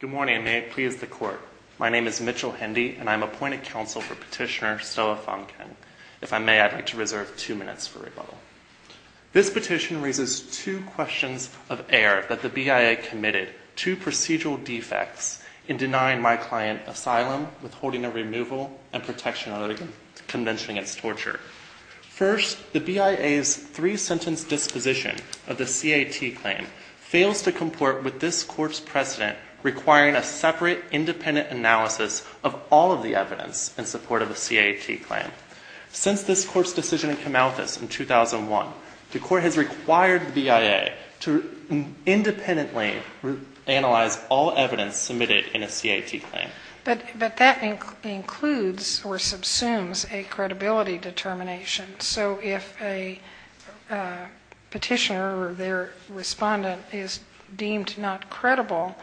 Good morning. May it please the court. My name is Mitchell Hendy, and I'm appointed counsel for Petitioner Stella Fonkeng. If I may, I'd like to reserve two minutes for rebuttal. This petition raises two questions of error that the BIA committed, two procedural defects in denying my client asylum, withholding a removal, and protection of the convention against torture. First, the BIA's three-sentence disposition of the CAT claim fails to comport with this court's precedent requiring a separate, independent analysis of all of the evidence in support of a CAT claim. Since this court's decision in Camalthus in 2001, the court has required the BIA to independently analyze all evidence submitted in a CAT claim. But that includes or subsumes a credibility determination. So if a petitioner or their respondent is deemed not credible,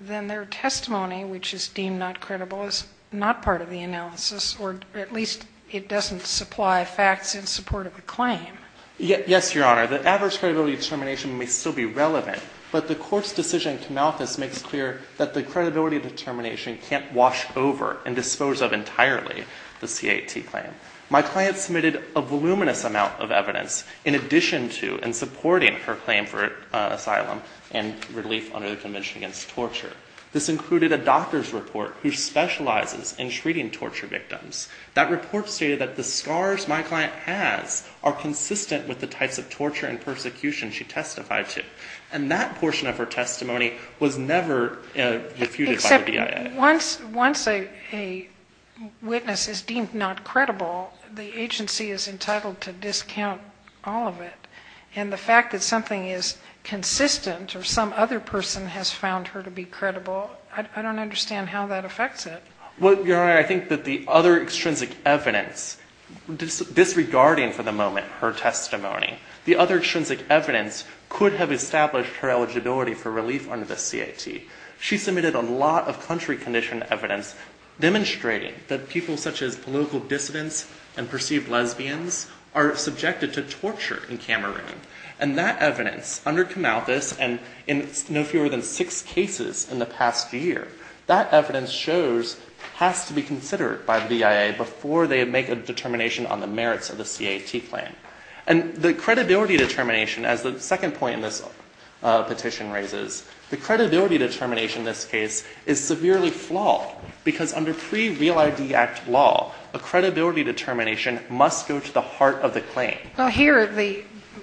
then their testimony, which is deemed not credible, is not part of the analysis, or at least it doesn't supply facts in support of the claim. Yes, Your Honor. The adverse credibility determination may still be relevant, but the court's decision in Camalthus makes clear that the credibility determination can't wash over and dispose of entirely the CAT claim. My client submitted a voluminous amount of evidence in addition to and supporting her claim for asylum and relief under the Convention Against Torture. This included a doctor's report who specializes in treating torture victims. That report stated that the scars my client has are consistent with the types of torture and persecution she testified to. And that portion of her testimony was never refuted by the BIA. Once a witness is deemed not credible, the agency is entitled to discount all of it. And the fact that something is consistent, or some other person has found her to be credible, I don't understand how that affects it. Well, Your Honor, I think that the other extrinsic evidence, disregarding for the moment her testimony, the other extrinsic evidence could have established her eligibility for relief under the CAT. She submitted a lot of country-conditioned evidence demonstrating that people such as political dissidents and perceived lesbians are subjected to torture in Cameroon. And that evidence, under Kamauthus, and in no fewer than six cases in the past year, that evidence shows has to be considered by the BIA before they make a determination on the merits of the CAT claim. And the credibility determination, as the second point in this petition raises, the credibility determination in this case is severely flawed because under pre-Real ID Act law, a credibility determination must go to the heart of the claim. Now here,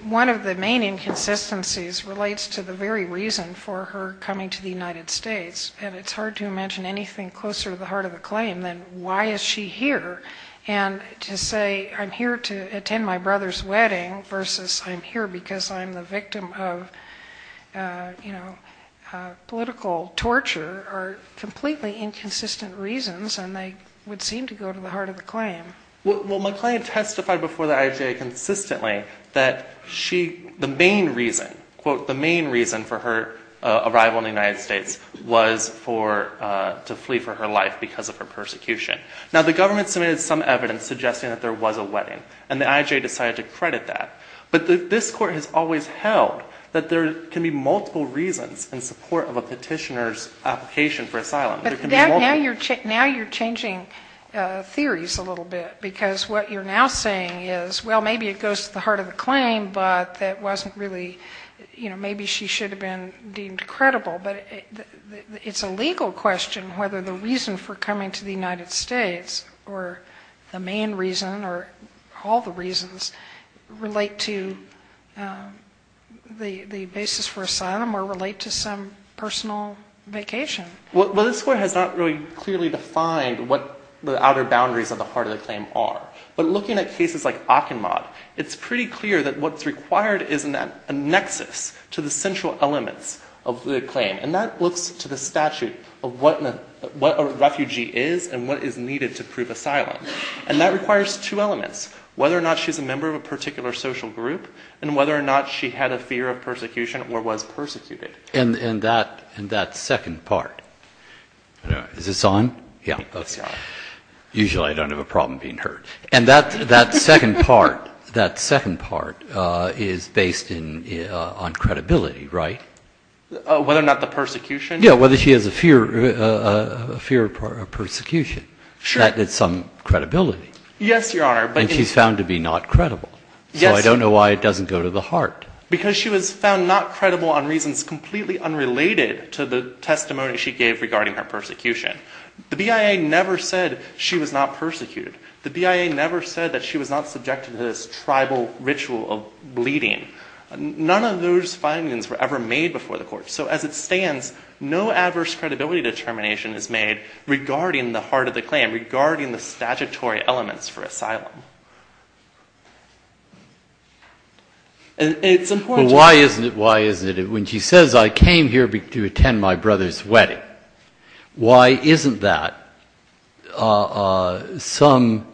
one of the main inconsistencies relates to the very reason for her coming to the United States. And it's hard to imagine anything closer to the heart of the claim than why is she here? And to say, I'm here to attend my brother's wedding versus I'm here because I'm the victim of political torture are completely inconsistent reasons and they would seem to go to the heart of the claim. Well, McClain testified before the IJA consistently that she, the main reason, quote, the main reason for her arrival in the United States was to flee for her life because of her persecution. Now the government submitted some evidence suggesting that there was a wedding and the IJA decided to credit that. But this court has always held that there can be multiple reasons in support of a petitioner's application for asylum. There can be multiple. Now you're changing theories a little bit because what you're now saying is, well, maybe it goes to the heart of the claim, but that wasn't really, maybe she should have been deemed credible, but it's a legal question whether the reason for coming to the United States or the main reason or all the reasons relate to the basis for asylum or relate to some personal vacation. Well, this court has not really clearly defined what the outer boundaries of the heart of the claim are. But looking at cases like Akinmode, it's pretty clear that what's required is a nexus to the central elements of the claim. And that looks to the statute of what a refugee is and what is needed to prove asylum. And that requires two elements, whether or not she's a member of a particular social group and whether or not she had a fear of persecution or was persecuted. And that second part, is this on? Yeah. Usually I don't have a problem being heard. And that second part is based on credibility, right? Whether or not the persecution. Yeah, whether she has a fear of persecution. That is some credibility. Yes, Your Honor. And she's found to be not credible. So I don't know why it doesn't go to the heart. Because she was found not credible on reasons completely unrelated to the testimony she gave regarding her persecution. The BIA never said she was not persecuted. The BIA never said that she was not subjected to this tribal ritual of bleeding. None of those findings were ever made before the court. So as it stands, no adverse credibility determination is made regarding the heart of the claim, regarding the statutory elements for asylum. And it's important to- Well, why isn't it? When she says, I came here to attend my brother's wedding, why isn't that some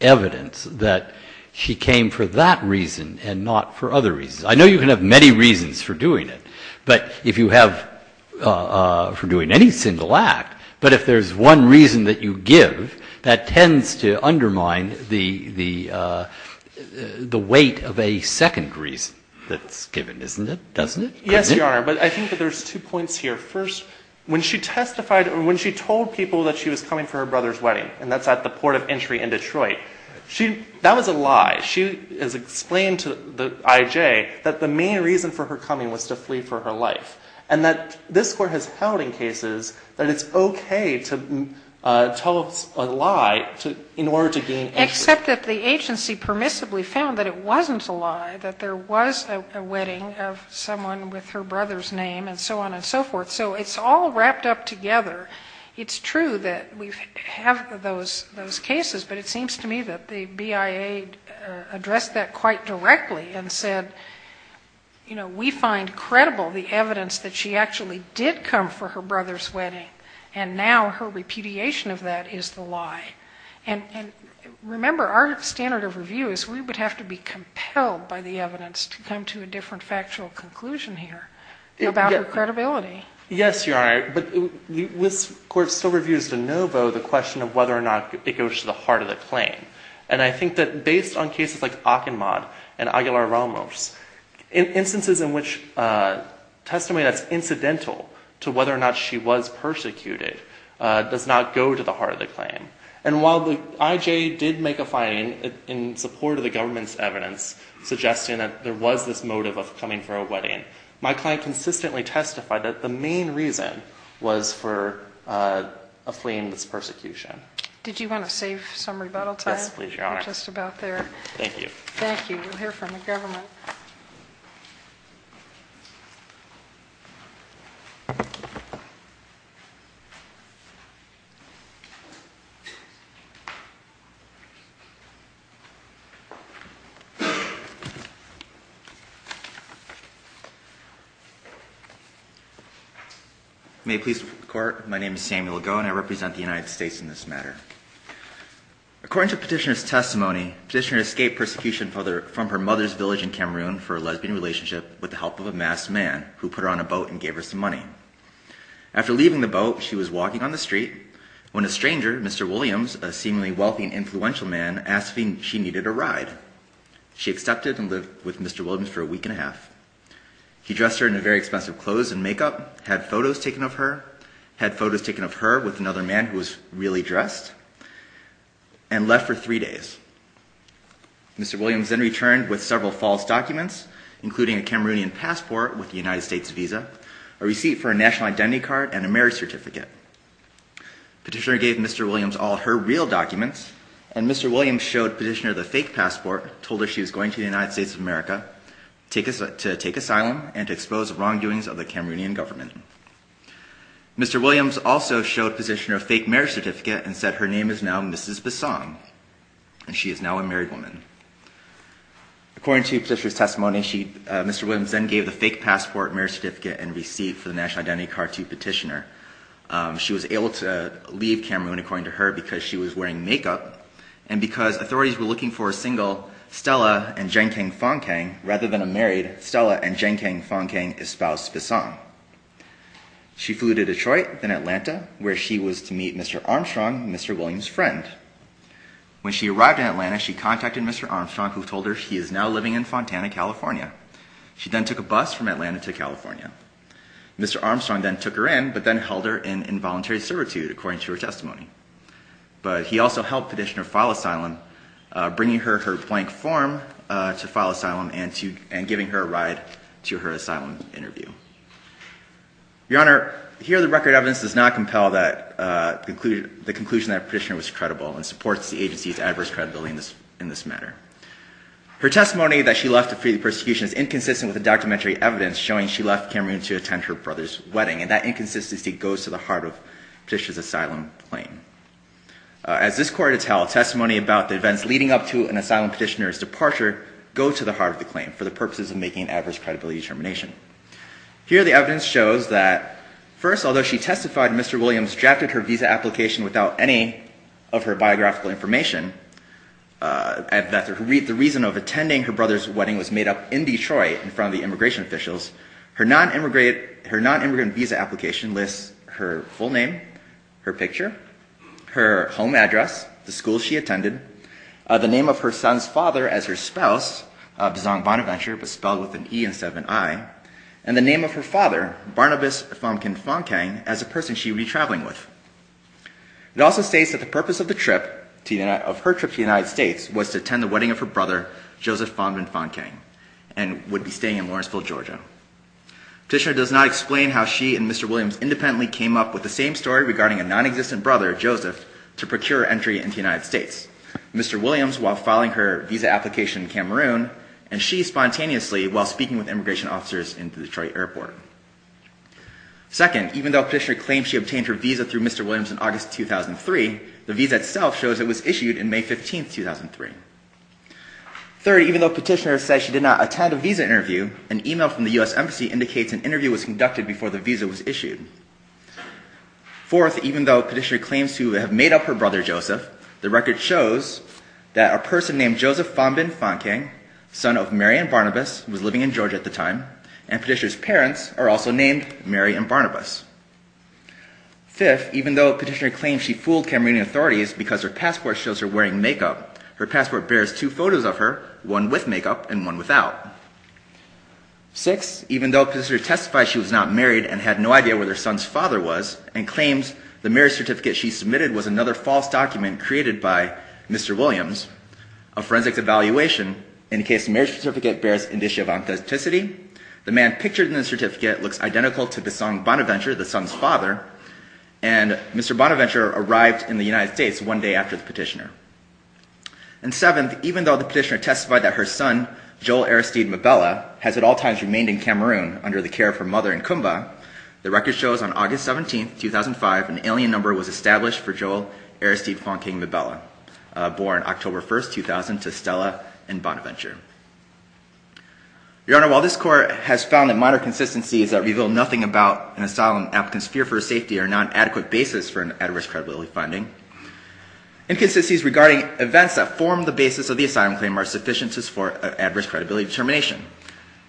evidence that she came for that reason and not for other reasons? I know you can have many reasons for doing it. But if you have for doing any single act, but if there's one reason that you give, that tends to undermine the weight of a second reason that's given, isn't it? Doesn't it? Yes, Your Honor. But I think that there's two points here. First, when she testified or when she told people that she was coming for her brother's wedding, and that's at the port of entry in Detroit, that was a lie. She has explained to the IJ that the main reason for her coming was to flee for her life. And that this court has held in cases that it's okay to tell a lie in order to gain- Except that the agency permissibly found that it wasn't a lie, that there was a wedding of someone with her brother's name and so on and so forth. So it's all wrapped up together. It's true that we have those cases, but it seems to me that the BIA addressed that quite directly and said, we find credible the evidence that she actually did come for her brother's wedding. And now her repudiation of that is the lie. And remember, our standard of review is we would have to be compelled by the evidence to come to a different factual conclusion here about her credibility. Yes, Your Honor. But this court still reviews de novo the question of whether or not it goes to the heart of the claim. And I think that based on cases like Akinmad and Aguilar-Ramos, instances in which testimony that's incidental to whether or not she was persecuted does not go to the heart of the claim. And while the IJA did make a finding in support of the government's evidence suggesting that there was this motive of coming for a wedding, my client consistently testified that the main reason was for fleeing this persecution. Did you want to save some rebuttal time? Yes, please, Your Honor. We're just about there. Thank you. Thank you. You'll hear from the government. May it please the court. My name is Samuel Lago, and I represent the United States in this matter. According to petitioner's testimony, petitioner escaped persecution from her mother's village in Cameroon for a lesbian relationship with the help of a masked man who put her on a boat and gave her some money. After leaving the boat, she was walking on the street when a stranger, Mr. Williams, a seemingly wealthy and influential man, asked if she needed a ride. She accepted and lived with Mr. Williams for a week and a half. He dressed her in very expensive clothes and makeup, had photos taken of her, had photos taken of her with another man who was really dressed, and left for three days. Mr. Williams then returned with several false documents, including a Cameroonian passport with a United States visa, a receipt for a national identity card, and a marriage certificate. Petitioner gave Mr. Williams all her real documents, and Mr. Williams showed petitioner the fake passport, told her she was going to the United States of America to take asylum and to expose the wrongdoings of the Cameroonian government. Mr. Williams also showed petitioner a fake marriage certificate and said her name is now Mrs. Bissong, and she is now a married woman. According to petitioner's testimony, Mr. Williams then gave the fake passport, marriage certificate, and receipt for the national identity card to petitioner. She was able to leave Cameroon, according to her, because she was wearing makeup, and because authorities were looking for a single Stella and Jen Kang Fong Kang, rather than a married Stella and Jen Kang Fong Kang espoused Bissong. She flew to Detroit, then Atlanta, where she was to meet Mr. Armstrong, Mr. Williams' friend. When she arrived in Atlanta, she contacted Mr. Armstrong, who told her she is now living in Fontana, California. She then took a bus from Atlanta to California. Mr. Armstrong then took her in, but then held her in involuntary servitude, according to her testimony. But he also helped petitioner file asylum, bringing her her blank form to file asylum and giving her a ride to her asylum interview. Your Honor, here the record evidence does not compel the conclusion that a petitioner was credible and supports the agency's adverse credibility in this matter. Her testimony that she left to free the persecution is inconsistent with the documentary evidence showing she left Cameroon to attend her brother's wedding, and that inconsistency goes to the heart of the petitioner's asylum claim. As this court will tell, testimony about the events leading up to an asylum petitioner's departure go to the heart of the claim for the purposes of making an adverse credibility determination. Here the evidence shows that first, although she testified Mr. Williams drafted her visa application without any of her biographical information, and that the reason of attending her brother's wedding was made up in Detroit in front of the immigration officials, her non-immigrant visa application lists her full name, her picture, her home address, the school she attended, the name of her son's father as her spouse, Bizong Bonaventure, but spelled with an E instead of an I, and the name of her father, Barnabas Fongkin Fongkang, as the person she would be traveling with. It also states that the purpose of the trip, of her trip to the United States, was to attend the wedding of her brother, Joseph Fongkin Fongkang, and would be staying in Lawrenceville, Georgia. Petitioner does not explain how she and Mr. Williams independently came up with the same story regarding a non-existent brother, Joseph, to procure entry into the United States. Mr. Williams, while filing her visa application in Cameroon, and she, spontaneously, while speaking with immigration officers in the Detroit airport. Second, even though petitioner claims she obtained her visa through Mr. Williams in August 2003, the visa itself shows it was issued in May 15th, 2003. Third, even though petitioner says she did not attend a visa interview, an email from the U.S. Embassy indicates an interview was conducted before the visa was issued. Fourth, even though petitioner claims to have made up her brother, Joseph, the record shows that a person named Joseph Fongkin Fongkang, son of Mary and Barnabas, was living in Georgia at the time, and petitioner's parents are also named Mary and Barnabas. Fifth, even though petitioner claims she fooled Cameroonian authorities because her passport shows her wearing makeup, her passport bears two photos of her, one with makeup and one without. Sixth, even though petitioner testifies she was not married and had no idea where their son's father was, and claims the marriage certificate she submitted was another false document created by Mr. Williams, a forensics evaluation indicates the marriage certificate bears indicia of authenticity, the man pictured in the certificate looks identical to the son Bonaventure, the son's father, and Mr. Bonaventure arrived in the United States one day after the petitioner. And seventh, even though the petitioner testified that her son, Joel Aristide Mabella, has at all times remained in Cameroon under the care of her mother in Cumbia, the record shows on August 17th, 2005, an alien number was established for Joel Aristide Fonking Mabella, born October 1st, 2000 to Stella and Bonaventure. Your Honor, while this court has found that minor consistencies that reveal nothing about an asylum applicant's fear for safety are not an adequate basis for an adverse credibility finding, inconsistencies regarding events that form the basis of the asylum claim are sufficiencies for adverse credibility determination.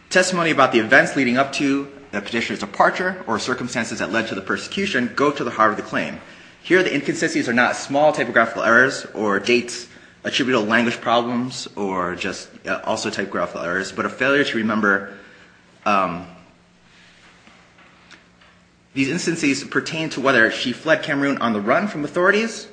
Testimony about the events leading up to the petitioner's departure or circumstances that led to the persecution go to the heart of the claim. Here, the inconsistencies are not small typographical errors or date attributable language problems or just also typographical errors, but a failure to remember these instances pertain to whether she fled Cameroon on the run from authorities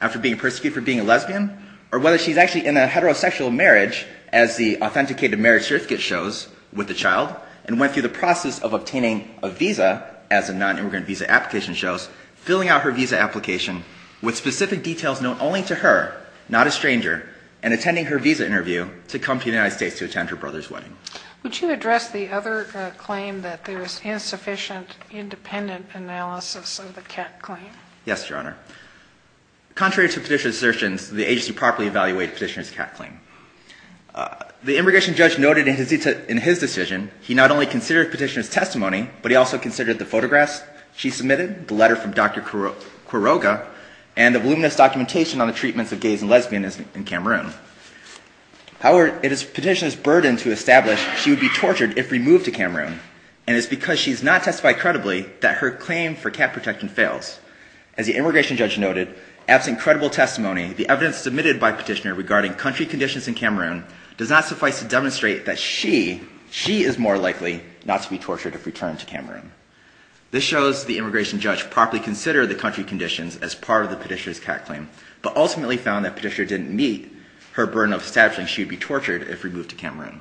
after being persecuted for being a lesbian, or whether she's actually in a heterosexual marriage as the authenticated marriage certificate shows with the child and went through the process of obtaining a visa as a non-immigrant visa application shows, filling out her visa application with specific details known only to her, not a stranger, and attending her visa interview to come to the United States to attend her brother's wedding. Would you address the other claim that there was insufficient independent analysis of the Catt claim? Yes, Your Honor. Contrary to petitioner's assertions, the agency properly evaluated petitioner's Catt claim. The immigration judge noted in his decision, he not only considered petitioner's testimony, but he also considered the photographs she submitted, the letter from Dr. Quiroga, and the voluminous documentation on the treatments of gays and lesbians in Cameroon. However, it is petitioner's burden to establish she would be tortured if removed to Cameroon, and it's because she's not testified credibly that her claim for Catt protection fails. As the immigration judge noted, absent credible testimony, the evidence submitted by petitioner regarding country conditions in Cameroon does not suffice to demonstrate that she is more likely not to be tortured if returned to Cameroon. This shows the immigration judge properly considered the country conditions as part of the petitioner's Catt claim, but ultimately found that petitioner didn't meet her burden of establishing she would be tortured if removed to Cameroon.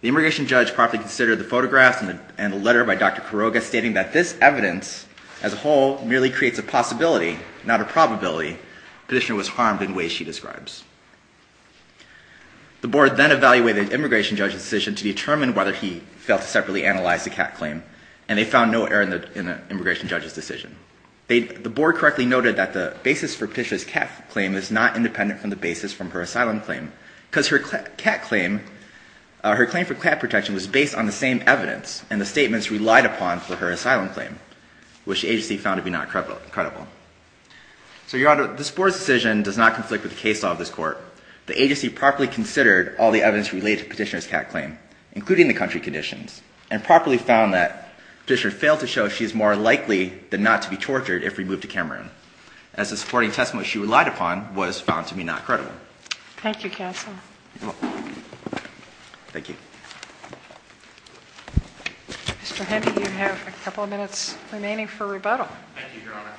The immigration judge properly considered the photographs and the letter by Dr. Quiroga, stating that this evidence as a whole merely creates a possibility, not a probability, petitioner was harmed in ways she describes. The board then evaluated the immigration judge's decision to determine whether he failed to separately analyze the Catt claim, and they found no error in the immigration judge's decision. The board correctly noted that the basis for petitioner's Catt claim is not independent from the basis from her asylum claim, because her Catt claim, her claim for Catt protection was based on the same evidence, and the statements relied upon for her asylum claim, which the agency found to be not credible. So, Your Honor, this board's decision does not conflict with the case law of this court, the agency properly considered all the evidence related to petitioner's Catt claim, including the country conditions, and properly found that petitioner failed to show she is more likely than not to be tortured if removed to Cameroon, as the supporting testimony she relied upon was found to be not credible. Thank you, Counsel. Thank you. Mr. Hennie, you have a couple of minutes remaining for rebuttal. Thank you, Your Honor.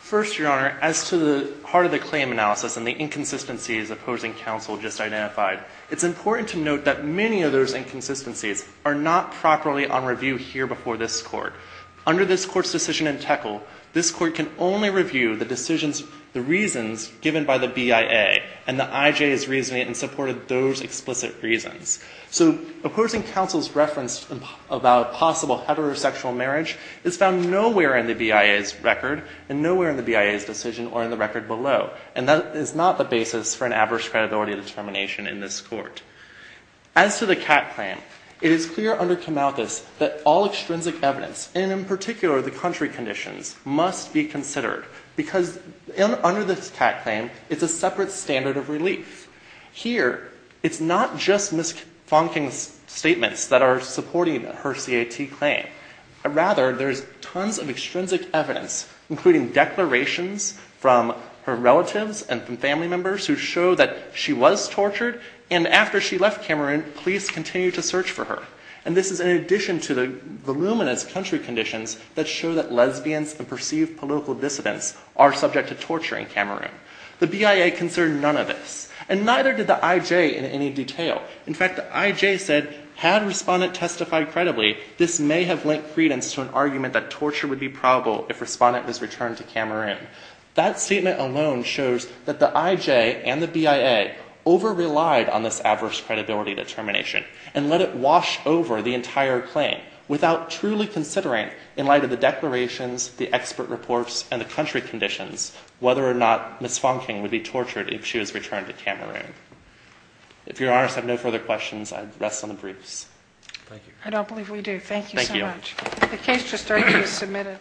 First, Your Honor, as to the heart of the claim analysis and the inconsistencies opposing counsel just identified, it's important to note that many of those inconsistencies are not properly on review here before this court. Under this court's decision in Teckle, this court can only review the decisions, the reasons given by the BIA, and the IJ is reasoning in support of those explicit reasons. So, opposing counsel's reference about possible heterosexual marriage is found nowhere in the BIA's record and nowhere in the BIA's decision or in the record below, and that is not the basis for an average credibility determination in this court. As to the Catt claim, it is clear under Camalthus that all extrinsic evidence, and in particular, the country conditions, must be considered, because under this Catt claim, it's a separate standard of relief. Here, it's not just Ms. Fonking's statements that are supporting her CAT claim. Rather, there's tons of extrinsic evidence, including declarations from her relatives and from family members who show that she was tortured, and after she left Cameroon, police continued to search for her, and this is in addition to the voluminous country conditions that show that lesbians and perceived political dissidents are subject to torture in Cameroon. The BIA considered none of this, and neither did the IJ in any detail. In fact, the IJ said, had Respondent testified credibly, this may have lent credence to an argument that torture would be probable if Respondent was returned to Cameroon. That statement alone shows that the IJ and the BIA over-relied on this adverse credibility determination, and let it wash over the entire claim without truly considering, in light of the declarations, the expert reports, and the country conditions, whether or not Ms. Fonking would be tortured if she was returned to Cameroon. If your honors have no further questions, I'd rest on the briefs. Thank you. I don't believe we do. Thank you so much. Thank you. The case just urgently submitted.